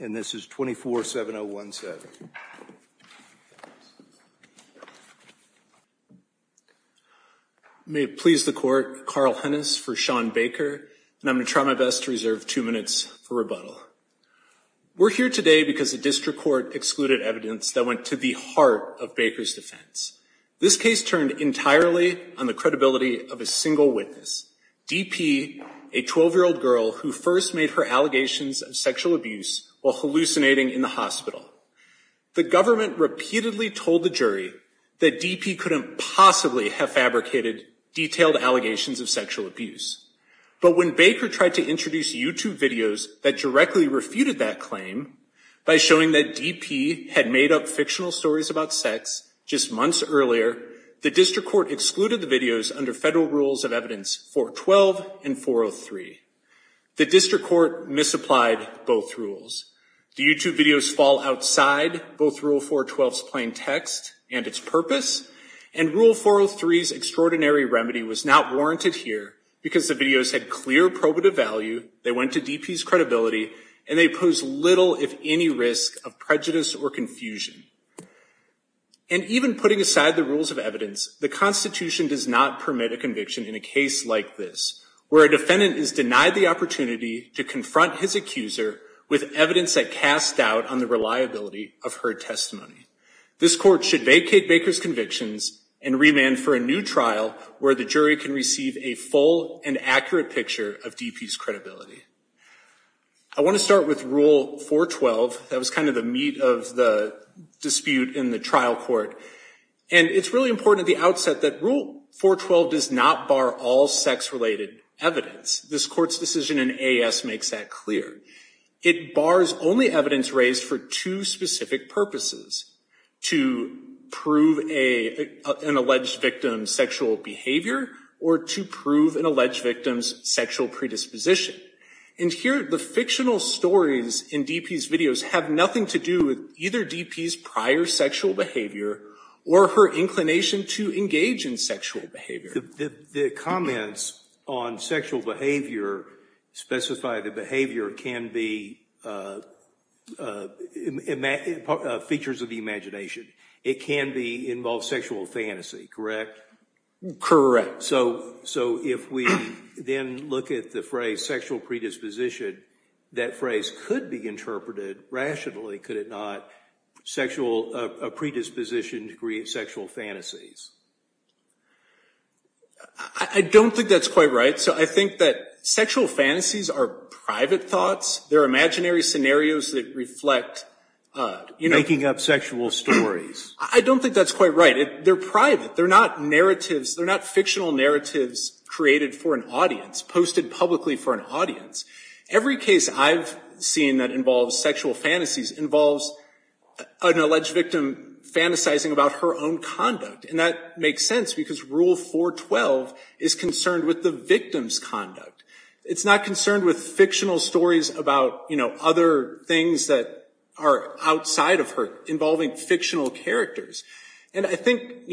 and this is 24-7-0-1-7. May it please the court, Carl Hennis for Sean Baker, and I'm going to try my best to reserve two minutes for rebuttal. We're here today because a district court excluded evidence that went to the heart of Baker's defense. This case turned entirely on the credibility of a single witness, DP, a 12-year-old girl who first made her allegations of sexual abuse while hallucinating in the hospital. The government repeatedly told the jury that DP couldn't possibly have fabricated detailed allegations of sexual abuse. But when Baker tried to introduce YouTube videos that directly refuted that claim, by showing that DP had made up fictional stories about sex just months earlier, the district court excluded the videos under federal rules of evidence 412 and 403. The district court misapplied both rules. The YouTube videos fall outside both rule 412's plain text and its purpose, and rule 403's extraordinary remedy was not warranted here because the videos had clear probative value, they went to DP's credibility, and they pose little, if any, risk of prejudice or confusion. And even putting aside the rules of evidence, the Constitution does not permit a conviction in a case like this, where a defendant is denied the opportunity to confront his accuser with evidence that casts doubt on the reliability of her testimony. This court should vacate Baker's convictions and remand for a new trial where the jury can receive a full and accurate picture of DP's credibility. I want to start with rule 412. That was kind of the meat of the dispute in the trial court. And it's really important at the outset that rule 412 does not bar all sex-related evidence. This court's decision in AAS makes that clear. It bars only evidence raised for two specific purposes, to prove an alleged victim's sexual behavior or to prove an alleged victim's sexual predisposition. And here, the fictional stories in DP's videos have nothing to do with either DP's prior sexual behavior or her inclination to engage in sexual behavior. The comments on sexual behavior specify that behavior can be features of the imagination. It can involve sexual fantasy, correct? Correct. So if we then look at the phrase sexual predisposition, that phrase could be interpreted rationally, could it not? A predisposition to create sexual fantasies. I don't think that's quite right. So I think that sexual fantasies are private thoughts. They're imaginary scenarios that reflect... I don't think that's quite right. They're private. They're not fictional narratives created for an audience, posted publicly for an audience. Every case I've seen that involves sexual fantasies involves an alleged victim fantasizing about her own conduct. And that makes sense because rule 412 is concerned with the victim's conduct. It's not concerned with fictional stories about other things that are outside of her, involving fictional characters. And I think...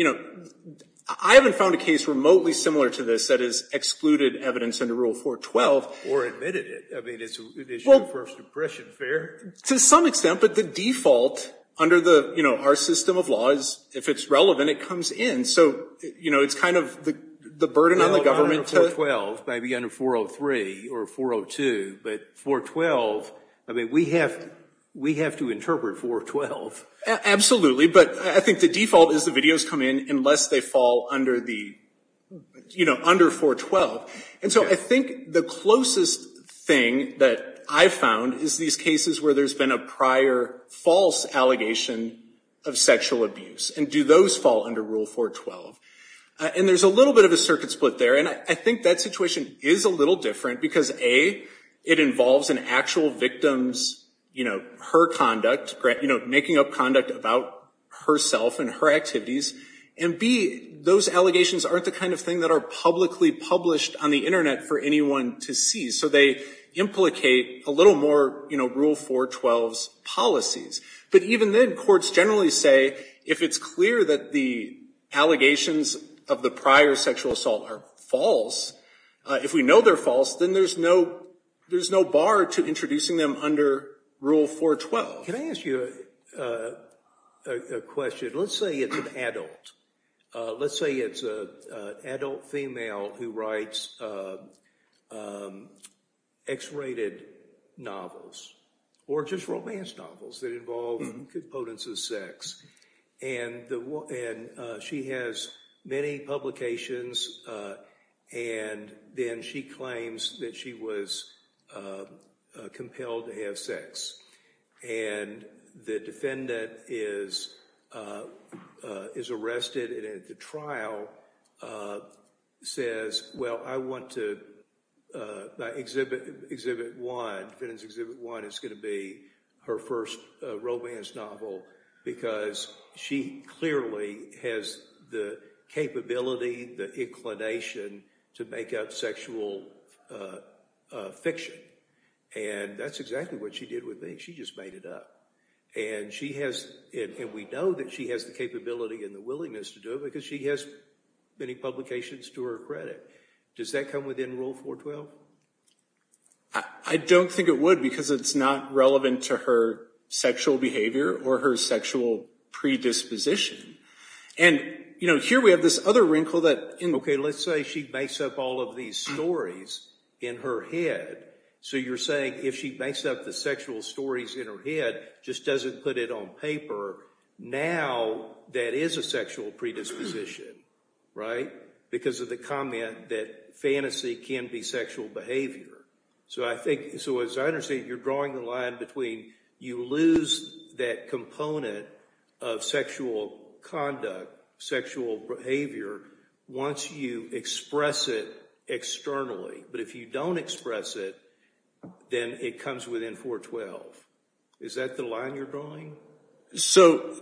I haven't found a case remotely similar to this that has excluded evidence under rule 412. Or admitted it. I mean, is your first impression fair? To some extent, but the default under our system of laws, if it's relevant, it comes in. So it's kind of the burden on the government to... Maybe under 403 or 402, but 412, I mean, we have to interpret 412. Absolutely, but I think the default is the videos come in unless they fall under 412. And so I think the closest thing that I've found is these cases where there's been a prior false allegation of sexual abuse. And do those fall under rule 412? And there's a little bit of a circuit split there. And I think that situation is a little different because A, it involves an actual victim's, you know, her conduct, making up conduct about herself and her activities. And B, those allegations aren't the kind of thing that are publicly published on the Internet for anyone to see. So they implicate a little more, you know, rule 412's policies. But even then, courts generally say, if it's clear that the allegations of the prior sexual assault are false, if we know they're false, then there's no bar to introducing them under rule 412. Can I ask you a question? Let's say it's an adult. Let's say it's an adult female who writes X-rated novels, or just romance novels that involve components of sex. And she has many publications, and then she claims that she was compelled to have sex. And the defendant is arrested, and at the trial says, well, I want to exhibit one. Exhibit one is going to be her first romance novel because she clearly has the capability, the inclination to make out sexual fiction. And that's exactly what she did with me. She just made it up. And we know that she has the capability and the willingness to do it because she has many publications to her credit. Does that come within rule 412? I don't think it would because it's not relevant to her sexual behavior or her sexual predisposition. Okay, let's say she makes up all of these stories in her head. So you're saying if she makes up the sexual stories in her head, just doesn't put it on paper, now that is a sexual predisposition, right? Because of the comment that fantasy can be sexual behavior. So as I understand it, you're drawing the line between you lose that component of sexual conduct, sexual behavior, once you express it externally. But if you don't express it, then it comes within 412. Is that the line you're drawing? So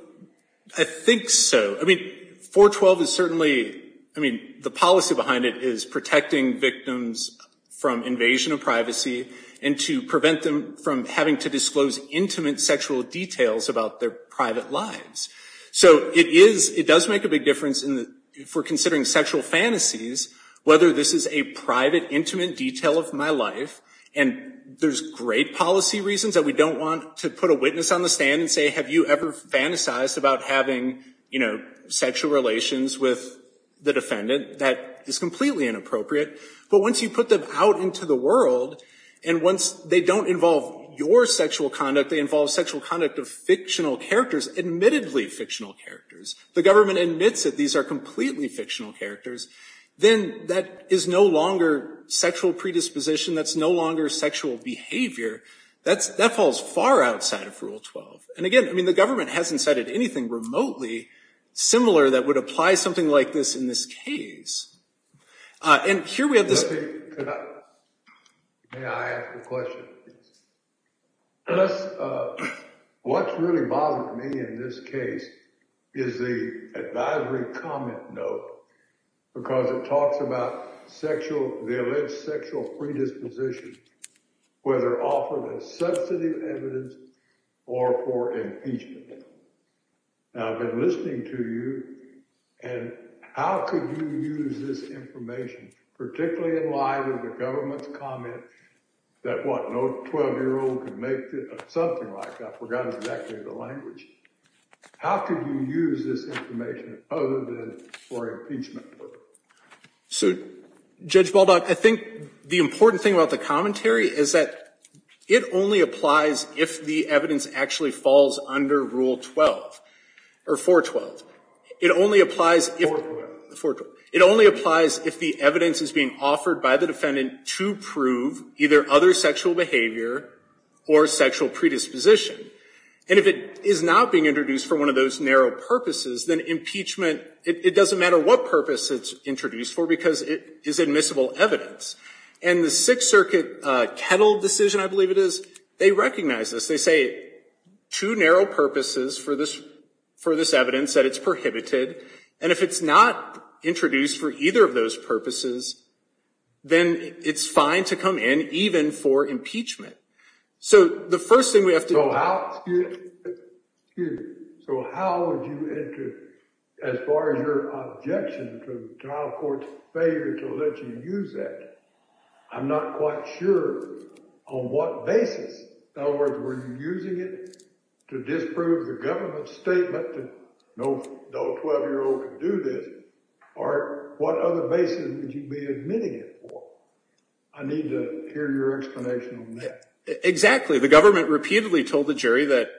I think so. I mean, 412 is certainly, I mean, the policy behind it is protecting victims from invasion of privacy and to prevent them from having to disclose intimate sexual details about their private lives. So it is, it does make a big difference for considering sexual fantasies, whether this is a private, intimate detail of my life. And there's great policy reasons that we don't want to put a witness on the stand and say, have you ever fantasized about having sexual relations with the defendant? That is completely inappropriate. But once you put them out into the world, and once they don't involve your sexual conduct, they involve sexual conduct of fictional characters, admittedly fictional characters, the government admits that these are completely fictional characters, then that is no longer sexual predisposition, that's no longer sexual behavior. That falls far outside of Rule 12. And again, I mean, the government hasn't cited anything remotely similar that would apply something like this in this case. And here we have this. May I ask a question? What's really bothered me in this case is the advisory comment note, because it talks about sexual, the alleged sexual predisposition, whether offered as substantive evidence or for impeachment. Now, I've been listening to you, and how could you use this information, particularly in light of the government's comment that, what, no 12-year-old could make something like that? I forgot exactly the language. How could you use this information other than for impeachment? So, Judge Baldock, I think the important thing about the commentary is that it only applies if the evidence actually falls under Rule 12, or 412. It only applies if the evidence is being offered by the defendant to prove either other sexual behavior or sexual predisposition. And if it is not being introduced for one of those narrow purposes, then impeachment, it doesn't matter what purpose it's introduced for, because it is admissible evidence. And the Sixth Circuit Kettle decision, I believe it is, they recognize this. They say two narrow purposes for this evidence, that it's prohibited. And if it's not introduced for either of those purposes, then it's fine to come in, even for impeachment. So the first thing we have to... So how would you enter, as far as your objection to the trial court's failure to let you use that? I'm not quite sure on what basis. In other words, were you using it to disprove the government's statement that no 12-year-old could do this? Or what other basis would you be admitting it for? I need to hear your explanation on that. Exactly. The government repeatedly told the jury that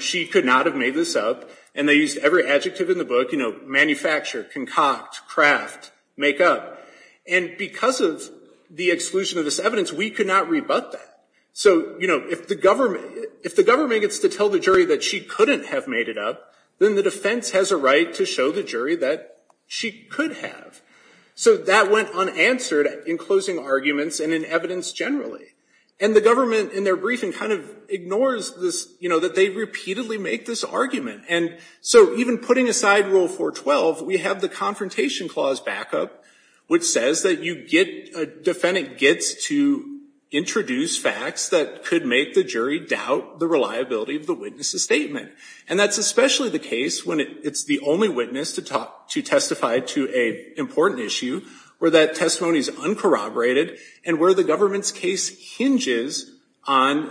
she could not have made this up. And they used every adjective in the book, manufacture, concoct, craft, make up. And because of the exclusion of this evidence, we could not rebut that. So if the government gets to tell the jury that she couldn't have made it up, then the defense has a right to show the jury that she could have. So that went unanswered in closing arguments and in evidence generally. And the government, in their briefing, kind of ignores this, that they repeatedly make this argument. And so even putting aside Rule 412, we have the Confrontation Clause backup, which says that a defendant gets to introduce facts that could make the jury doubt the reliability of the witness's statement. And that's especially the case when it's the only witness to testify to an important issue, where that testimony is uncorroborated, and where the government's case hinges on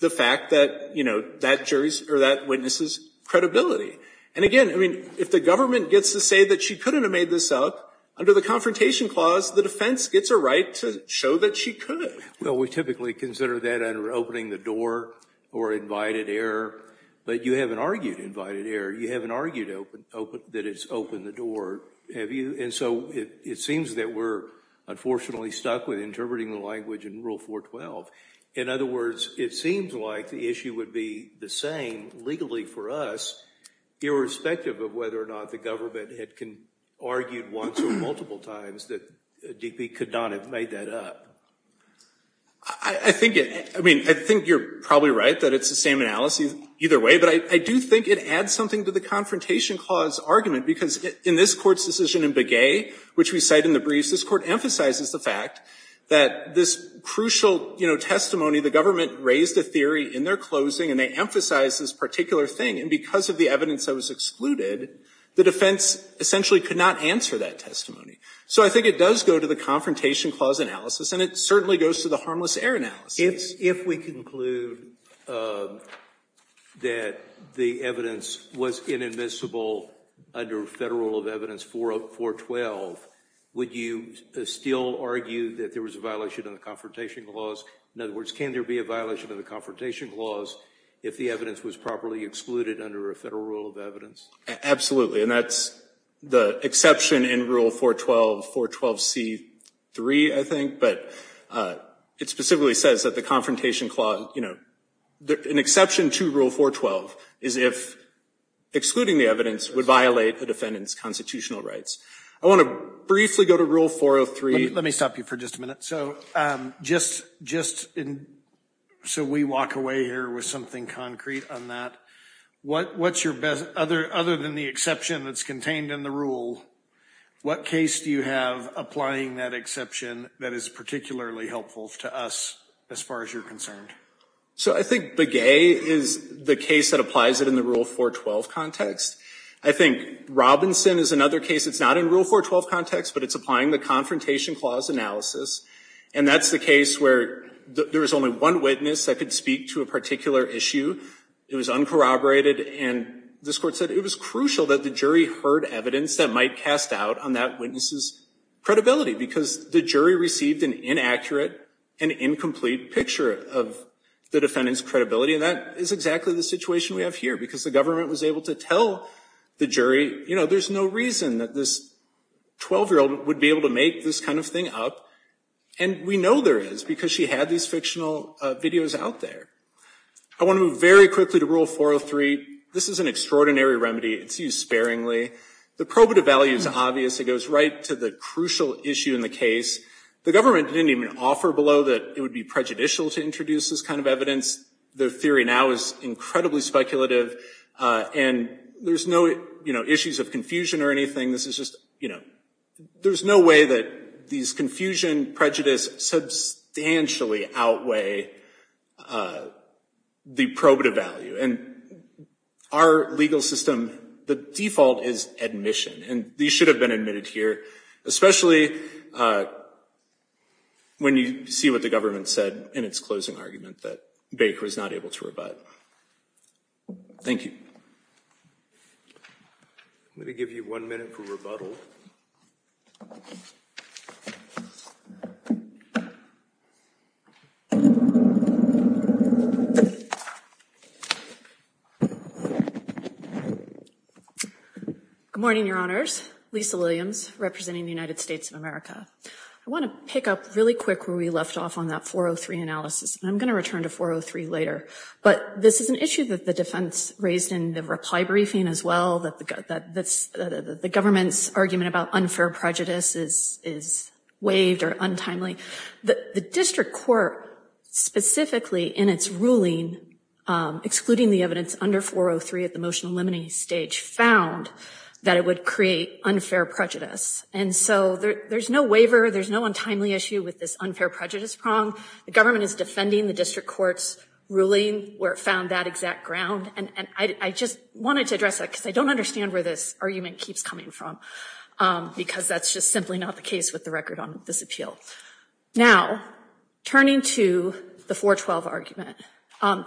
the fact that that witness's credibility. And again, if the government gets to say that she couldn't have made this up, under the Confrontation Clause, the defense gets a right to show that she could. Well, we typically consider that under opening the door or invited error. But you haven't argued invited error. You haven't argued that it's opened the door, have you? And so it seems that we're unfortunately stuck with interpreting the language in Rule 412. In other words, it seems like the issue would be the same legally for us, irrespective of whether or not the government had argued once or multiple times that DP could not have made that up. I think you're probably right that it's the same analysis either way. But I do think it adds something to the Confrontation Clause argument, because in this Court's decision in Begay, which we cite in the briefs, this Court emphasizes the fact that this crucial testimony, the government raised a theory in their closing, and they emphasize this particular thing. And because of the evidence that was excluded, the defense essentially could not answer that testimony. So I think it does go to the Confrontation Clause analysis, and it certainly goes to the harmless error analysis. If we conclude that the evidence was inadmissible under Federal Rule of Evidence 412, would you still argue that there was a violation of the Confrontation Clause if the evidence was properly excluded under a Federal Rule of Evidence? Absolutely. And that's the exception in Rule 412, 412C3, I think. But it specifically says that the Confrontation Clause, you know, an exception to Rule 412 is if excluding the evidence would violate the defendant's constitutional rights. I want to briefly go to Rule 403. Let me stop you for just a minute. So just so we walk away here with something concrete on that, what's your best, other than the exception that's contained in the rule, what case do you have applying that exception that is particularly helpful to us as far as you're concerned? So I think Begay is the case that applies it in the Rule 412 context. I think Robinson is another case. It's not in Rule 412 context, but it's applying the Confrontation Clause analysis. And that's the case where there was only one witness that could speak to a particular issue. It was uncorroborated. And this Court said it was crucial that the jury heard evidence that might cast out on that witness's credibility, because the jury received an inaccurate and incomplete picture of the defendant's credibility. And that is exactly the situation we have here, because the government was able to tell the jury, you know, there's no reason that this 12-year-old would be able to make this kind of thing up. And we know there is, because she had these fictional videos out there. I want to move very quickly to Rule 403. This is an extraordinary remedy. It's used sparingly. The probative value is obvious. It goes right to the crucial issue in the case. The government didn't even offer below that it would be prejudicial to introduce this kind of evidence. The theory now is incredibly speculative. And there's no, you know, issues of confusion or anything. This is just, you know, there's no way that these confusion, prejudice substantially outweigh the probative value. And our legal system, the default is admission. And these should have been admitted here, especially when you see what the government said in its closing argument, that Baker was not able to rebut. Thank you. Let me give you one minute for rebuttal. Good morning, Your Honors. Lisa Williams, representing the United States of America. I want to pick up really quick where we left off on that 403 analysis. And I'm going to return to 403 later. But this is an issue that the defense raised in the reply briefing as well, that the government's argument about unfair prejudice is waived or untimely. The district court, specifically in its ruling excluding the evidence under 403 at the motion eliminating stage, found that it would create unfair prejudice. And so there's no waiver. There's no untimely issue with this unfair prejudice prong. The government is defending the district court's ruling where it found that exact ground. And I just wanted to address that, because I don't understand where this argument keeps coming from, because that's just simply not the case with the record on this appeal. Now, turning to the 412 argument,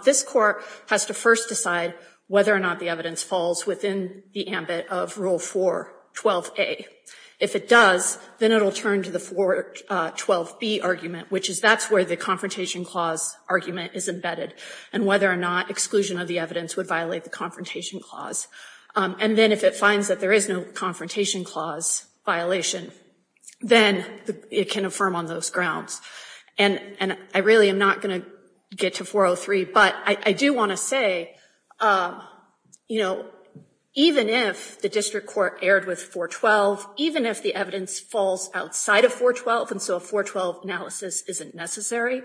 this court has to first decide whether or not the evidence falls within the ambit of Rule 412a. If it does, then it will turn to the 412b argument, which is that's where the confrontation clause argument is embedded, and whether or not exclusion of the evidence would violate the confrontation clause. And then if it finds that there is no firm on those grounds. And I really am not going to get to 403, but I do want to say, you know, even if the district court erred with 412, even if the evidence falls outside of 412, and so a 412 analysis isn't necessary,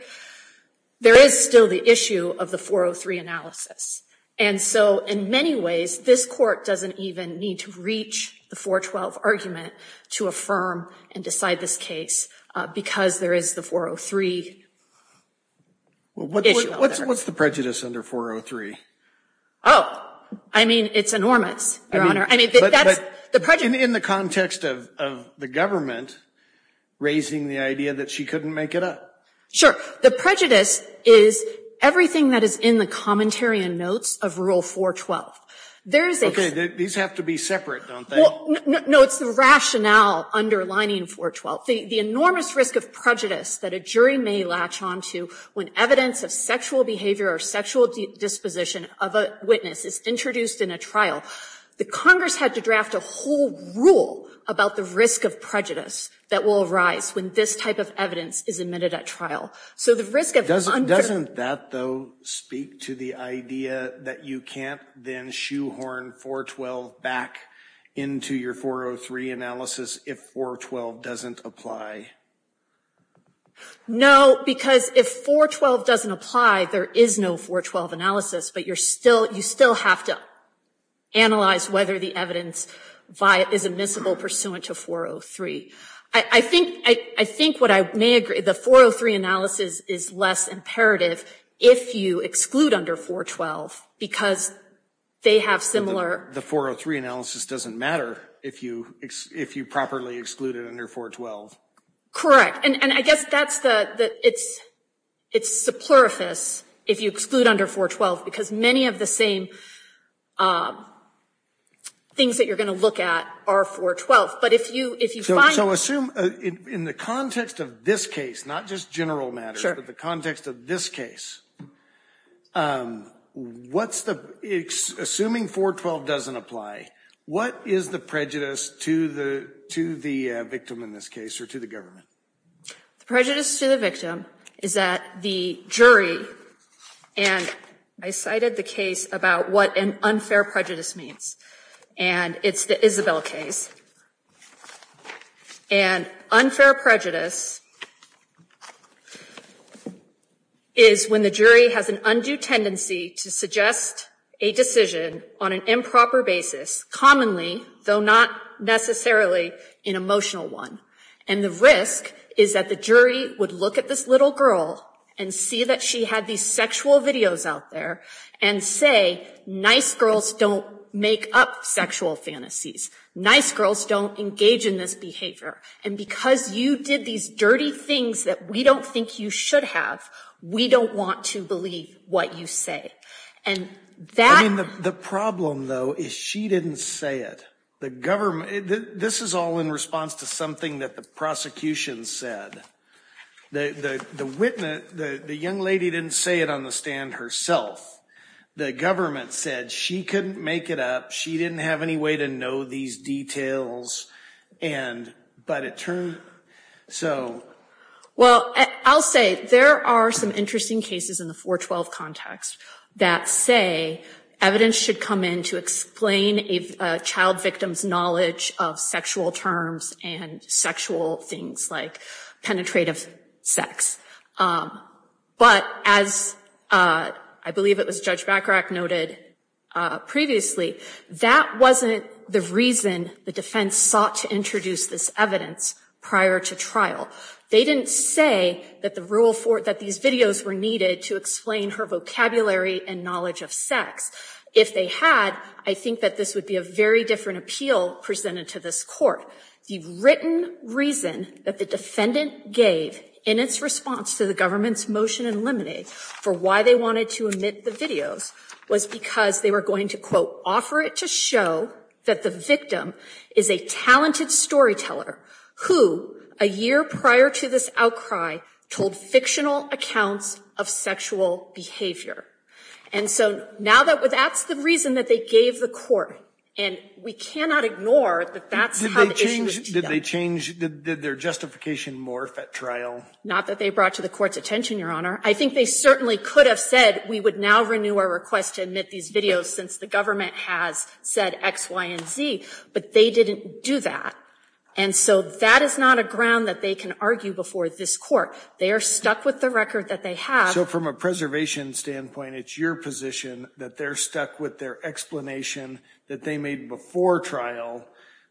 there is still the issue of the 403 analysis. And so in many ways, this court doesn't even need to reach the 412 argument to affirm and decide this case, because there is the 403 issue. What's the prejudice under 403? Oh, I mean, it's enormous, Your Honor. In the context of the government raising the idea that she couldn't make it up? Sure. The prejudice is everything that is in the commentary and notes of Rule 412. Okay. These have to be separate, don't they? No. It's the rationale underlining 412. The enormous risk of prejudice that a jury may latch on to when evidence of sexual behavior or sexual disposition of a witness is introduced in a trial. The Congress had to draft a whole rule about the risk of prejudice that will arise when this type of evidence is admitted at trial. Doesn't that, though, speak to the idea that you can't then shoehorn 412 back into your 403 analysis if 412 doesn't apply? No, because if 412 doesn't apply, there is no 412 analysis, but you still have to analyze whether the evidence is admissible pursuant to 403. I think what I may agree, the 403 analysis is less imperative if you exclude under 412 because they have similar- The 403 analysis doesn't matter if you properly exclude it under 412. Correct. And I guess that's the, it's superfluous if you exclude under 412 because many of the same things that you're going to look at are 412. But if you find- So assume in the context of this case, not just general matters- But the context of this case, what's the, assuming 412 doesn't apply, what is the prejudice to the victim in this case or to the government? The prejudice to the victim is that the jury, and I cited the case about what an unfair prejudice means, and it's the Isabel case. And unfair prejudice is when the jury has an undue tendency to suggest a decision on an improper basis, commonly, though not necessarily an emotional one. And the risk is that the jury would look at this little girl and see that she had these sexual videos out there and say, nice girls don't make up sexual fantasies. Nice girls don't engage in this behavior. And because you did these dirty things that we don't think you should have, we don't want to believe what you say. And that- I mean, the problem, though, is she didn't say it. The government, this is all in response to something that the prosecution said. The witness, the young lady didn't say it on the stand herself. The government said she couldn't make it up, she didn't have any way to know these details, and, but it turned, so- Well, I'll say, there are some interesting cases in the 412 context that say evidence should come in to explain a child victim's knowledge of sexual terms and sexual things like penetrative sex. But as I believe it was Judge Bacharach noted previously, that wasn't the reason the defense sought to introduce this evidence prior to trial. They didn't say that the rule for, that these videos were needed to explain her vocabulary and knowledge of sex. If they had, I think that this would be a very different appeal presented to this court. The written reason that the defendant gave in its response to the government's motion in Lemonade for why they wanted to omit the videos was because they were going to, quote, offer it to show that the victim is a talented storyteller who, a year prior to this outcry, told fictional accounts of sexual behavior. And so now that, that's the reason that they gave the court. And we cannot ignore that that's how- Did they change, did their justification morph at trial? Not that they brought to the court's attention, Your Honor. I think they certainly could have said, we would now renew our request to omit these videos since the government has said X, Y, and Z. But they didn't do that. And so that is not a ground that they can argue before this court. They are stuck with the record that they have- So from a preservation standpoint, it's your position that they're stuck with their explanation that they made before trial,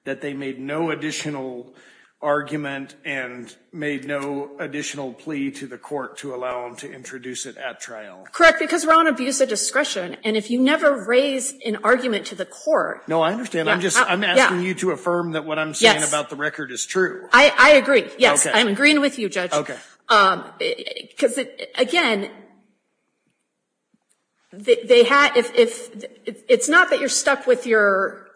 that they made no additional argument and made no additional plea to the court to allow them to introduce it at trial? Correct, because we're on abuse of discretion. And if you never raise an argument to the court- No, I understand. I'm just, I'm asking you to affirm that what I'm saying about the record is true. I agree. Yes, I'm agreeing with you, Judge. Because, again, it's not that you're stuck with your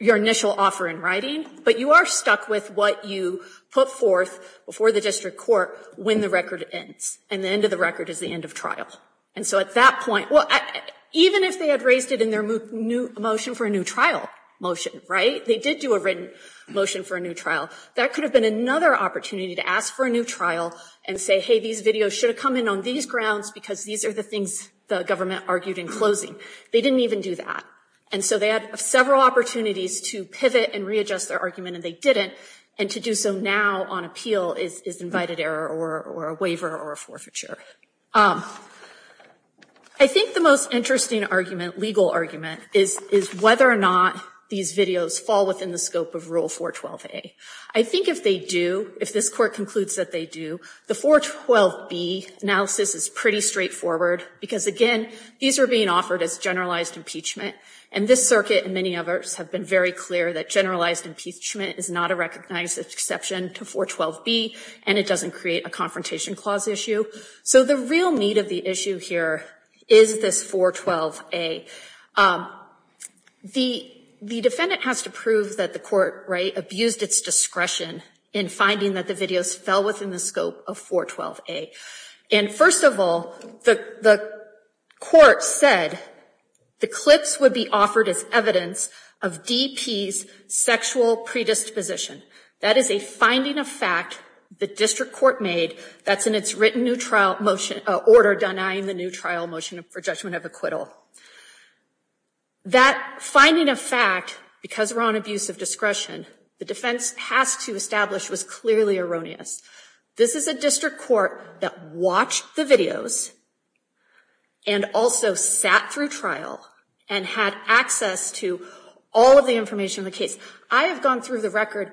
initial offer in writing, but you are stuck with what you put forth before the district court when the record ends. And the end of the record is the end of trial. And so at that point, even if they had raised it in their motion for a new trial motion, they did do a written motion for a new trial. That could have been another opportunity to ask for a new trial and say, hey, these videos should have come in on these grounds because these are the things the government argued in closing. They didn't even do that. And so they had several opportunities to pivot and readjust their argument, and they didn't. And to do so now on appeal is invited error or a waiver or a forfeiture. I think the most interesting argument, legal argument, is whether or not these videos fall within the scope of Rule 412A. I think if they do, if this court concludes that they do, the 412B analysis is pretty straightforward because, again, these are being offered as generalized impeachment. And this circuit and many others have been very clear that generalized impeachment is not a recognized exception to 412B, and it doesn't create a confrontation clause issue. So the real meat of the issue here is this 412A. The defendant has to prove that the court abused its discretion in finding that the videos fell within the scope of 412A. And first of all, the court said the clips would be offered as evidence of DP's sexual predisposition. That is a finding of fact the district court made that's in its written order denying the new trial motion for judgment of acquittal. That finding of fact, because we're on abuse of discretion, the defense has to establish was clearly erroneous. This is a district court that watched the videos and also sat through trial and had access to all of the information in the case. I have gone through the record,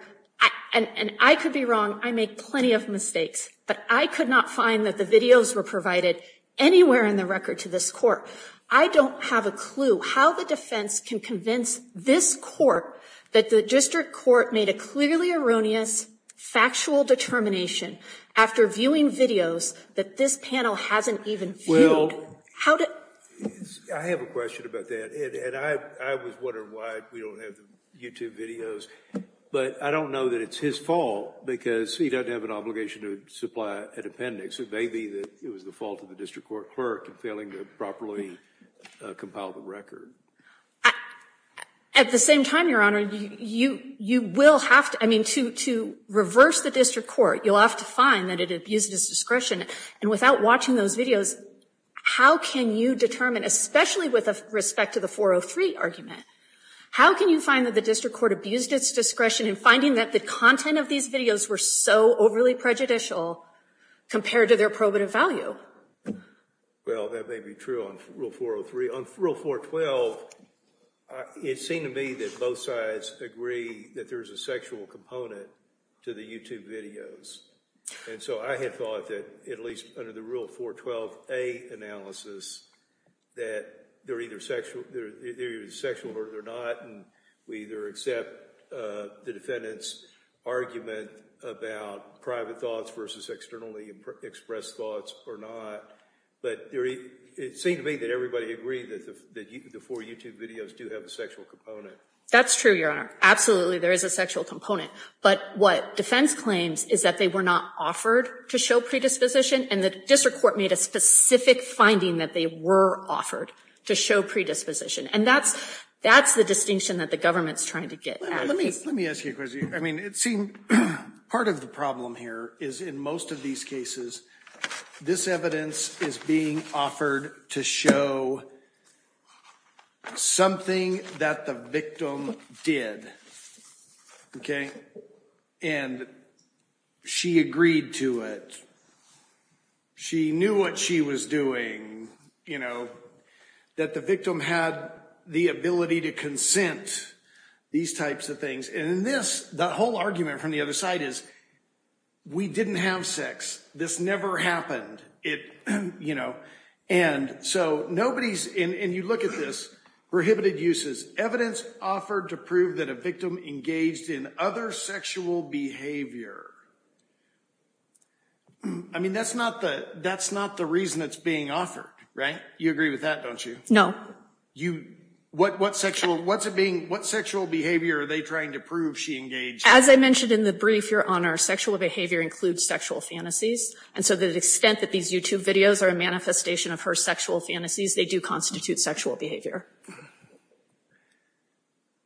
and I could be wrong. I make plenty of mistakes, but I could not find that the videos were provided anywhere in the record to this court. I don't have a clue how the defense can convince this court that the district court made a clearly erroneous factual determination after viewing videos that this panel hasn't even viewed. How do... I have a question about that, and I was wondering why we don't have the YouTube videos, but I don't know that it's his fault because he doesn't have an obligation to supply an appendix. It may be that it was the fault of the district court clerk in failing to properly compile the record. At the same time, Your Honor, you will have to... I mean, to reverse the district court, you'll have to find that it abused its discretion. And without watching those videos, how can you determine, especially with respect to the 403 argument, how can you find that the district court abused its discretion in finding that the content of these videos were so overly prejudicial compared to their probative value? Well, that may be true on Rule 403. On Rule 412, it seemed to me that both sides agree that there's a sexual component to the YouTube videos. And so I had thought that, at least under the Rule 412A analysis, that they're either sexual or they're not, and we either accept the defendant's argument about private thoughts versus externally expressed thoughts or not. But it seemed to me that everybody agreed that the four YouTube videos do have a sexual component. That's true, Your Honor. Absolutely, there is a sexual component. But what defense claims is that they were not offered to show predisposition, and the district court made a specific finding that they were offered to show predisposition. And that's the distinction that the government's trying to get at. Let me ask you a question. I mean, it seemed part of the problem here is, in most of these cases, this evidence is being offered to show something that the victim did. Okay? And she agreed to it. She knew what she was doing. That the victim had the ability to consent, these types of things. And in this, the whole argument from the other side is, we didn't have sex. This never happened. And so nobody's, and you look at this, prohibited uses. Evidence offered to prove that a victim engaged in other sexual behavior. I mean, that's not the reason that's being offered, right? You agree with that, don't you? What sexual behavior are they trying to prove she engaged in? As I mentioned in the brief, Your Honor, sexual behavior includes sexual fantasies. And so to the extent that these YouTube videos are a manifestation of her sexual fantasies, they do constitute sexual behavior.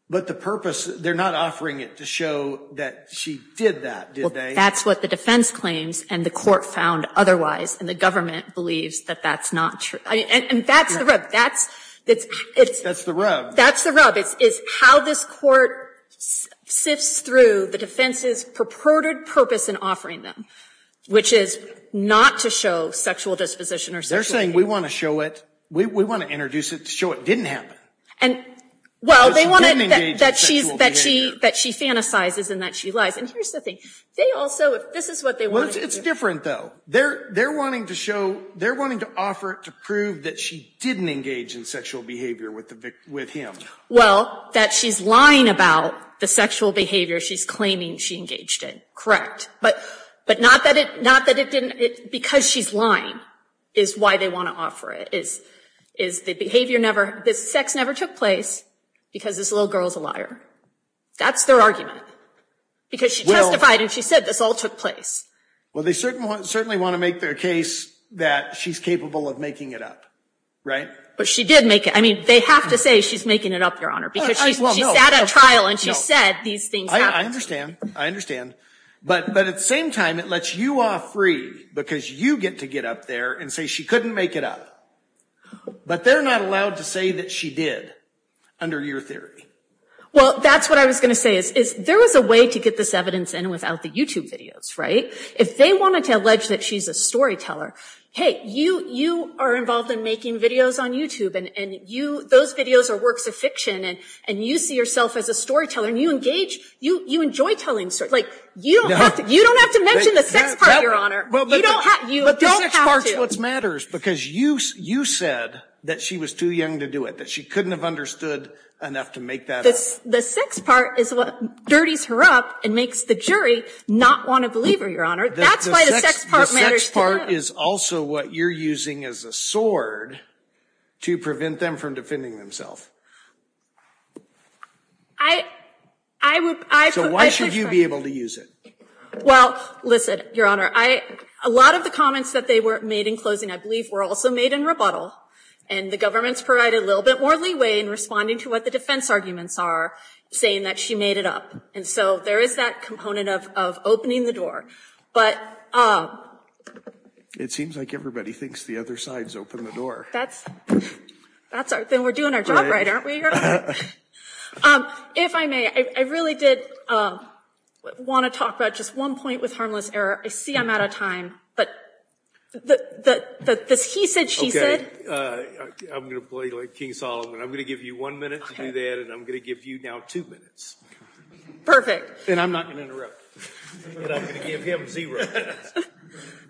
But the purpose, they're not offering it to show that she did that, did they? Well, that's what the defense claims, and the court found otherwise. And the government believes that that's not true. And that's the rub. That's the rub. That's the rub. It's how this court sifts through the defense's purported purpose in offering them, which is not to show sexual disposition or sexual behavior. We want to show it. We want to introduce it to show it didn't happen. Well, they want it that she fantasizes and that she lies. And here's the thing. They also, if this is what they want to do. It's different, though. They're wanting to show, they're wanting to offer it to prove that she didn't engage in sexual behavior with him. Well, that she's lying about the sexual behavior she's claiming she engaged in. Correct. But not that it didn't, because she's lying is why they want to offer it. The behavior never, the sex never took place because this little girl's a liar. That's their argument. Because she testified and she said this all took place. Well, they certainly want to make their case that she's capable of making it up. Right? But she did make it. I mean, they have to say she's making it up, Your Honor. Because she sat at trial and she said these things happened. I understand. I understand. But at the same time, it lets you off free because you get to get up there and say she couldn't make it up. But they're not allowed to say that she did under your theory. Well, that's what I was going to say is there was a way to get this evidence in without the YouTube videos, right? If they wanted to allege that she's a storyteller, hey, you are involved in making videos on YouTube. And those videos are works of fiction. And you see yourself as a storyteller. And you engage, you enjoy telling stories. Like, you don't have to mention the sex part, Your Honor. You don't have to. But the sex part is what matters. Because you said that she was too young to do it, that she couldn't have understood enough to make that up. The sex part is what dirties her up and makes the jury not want to believe her, Your Honor. That's why the sex part matters to them. The sex part is also what you're using as a sword to prevent them from defending themselves. So why should you be able to use it? Well, listen, Your Honor. A lot of the comments that they were made in closing, I believe, were also made in rebuttal. And the government's provided a little bit more leeway in responding to what the defense arguments are, saying that she made it up. And so there is that component of opening the door. It seems like everybody thinks the other side's opened the door. Then we're doing our job right. Aren't we, Your Honor? If I may, I really did want to talk about just one point with harmless error. I see I'm out of time, but the he said, she said. I'm going to play like King Solomon. I'm going to give you one minute to do that, and I'm going to give you now two minutes. Perfect. And I'm not going to interrupt. And I'm going to give him zero minutes.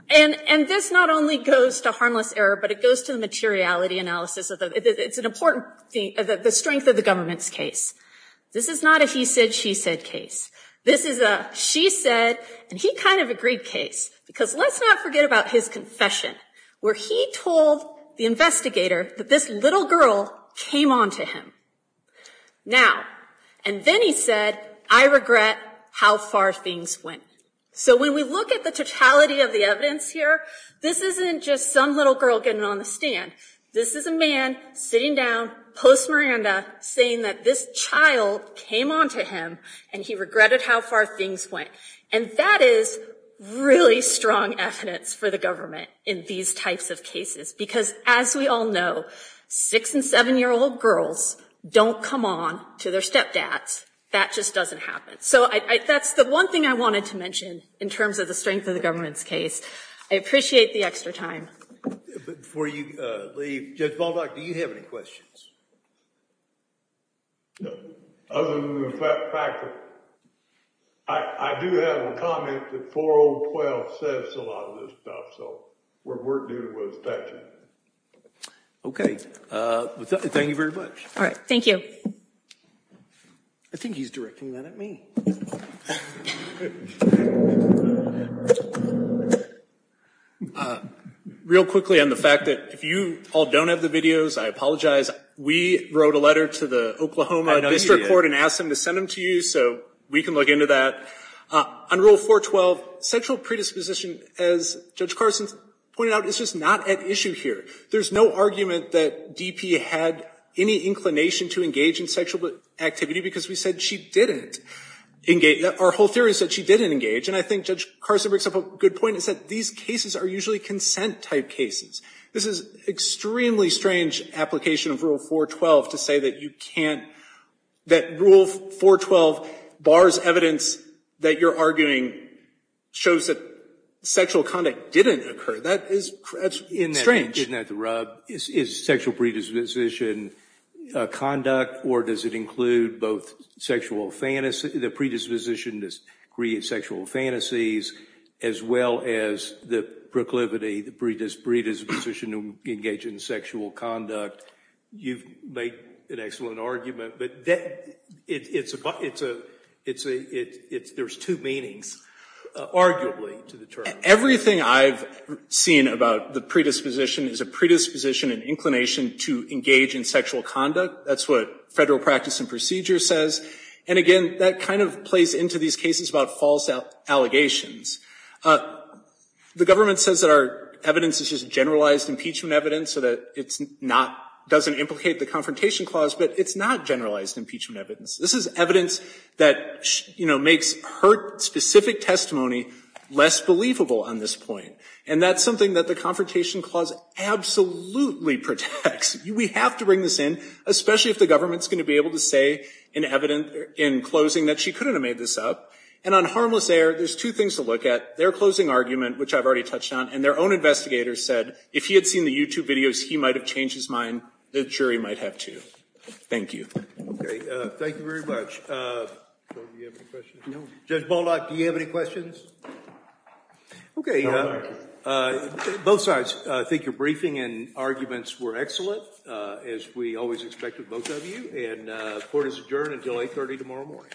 And this not only goes to harmless error, but it goes to the materiality analysis. It's an important thing, the strength of the government's case. This is not a he said, she said case. This is a she said, and he kind of agreed case. Because let's not forget about his confession, where he told the investigator that this little girl came on to him. Now, and then he said, I regret how far things went. So when we look at the totality of the evidence here, this isn't just some little girl getting on the stand. This is a man sitting down, post-Miranda, saying that this child came on to him, and he regretted how far things went. And that is really strong evidence for the government in these types of cases. Because as we all know, six- and seven-year-old girls don't come on to their stepdads. That just doesn't happen. So that's the one thing I wanted to mention in terms of the strength of the government's case. I appreciate the extra time. Before you leave, Judge Baldock, do you have any questions? No. Other than the fact that I do have a comment that 4.012 says a lot of this stuff. So what we're doing was touching it. OK. Thank you very much. All right. Thank you. I think he's directing that at me. Real quickly on the fact that if you all don't have the videos, I apologize. We wrote a letter to the Oklahoma District Court and asked them to send them to you, so we can look into that. On Rule 4.12, sexual predisposition, as Judge Carson pointed out, is just not at issue here. There's no argument that DP had any inclination to engage in sexual activity because we said she didn't. Our whole theory is that she didn't engage. And I think Judge Carson brings up a good point. It's that these cases are usually consent-type cases. This is an extremely strange application of Rule 4.12 to say that you can't – that Rule 4.12 bars evidence that you're arguing shows that sexual conduct didn't occur. That's strange. Isn't that the rub? Is sexual predisposition conduct, or does it include both sexual – the predisposition to create sexual fantasies as well as the proclivity, the predisposition to engage in sexual conduct? You've made an excellent argument, but it's a – there's two meanings, arguably, to the term. Everything I've seen about the predisposition is a predisposition and inclination to engage in sexual conduct. That's what Federal practice and procedure says. And, again, that kind of plays into these cases about false allegations. The government says that our evidence is just generalized impeachment evidence, so that it's not – doesn't implicate the Confrontation Clause, but it's not generalized impeachment evidence. This is evidence that, you know, makes her specific testimony less believable on this point. And that's something that the Confrontation Clause absolutely protects. We have to bring this in, especially if the government's going to be able to say in evidence in closing that she couldn't have made this up. And on harmless error, there's two things to look at. Their closing argument, which I've already touched on, and their own investigators said if he had seen the YouTube videos, he might have changed his mind. The jury might have, too. Thank you. Okay. Thank you very much. Judge Baldock, do you have any questions? Okay. Both sides think your briefing and arguments were excellent, as we always expect of both of you. And court is adjourned until 8.30 tomorrow morning.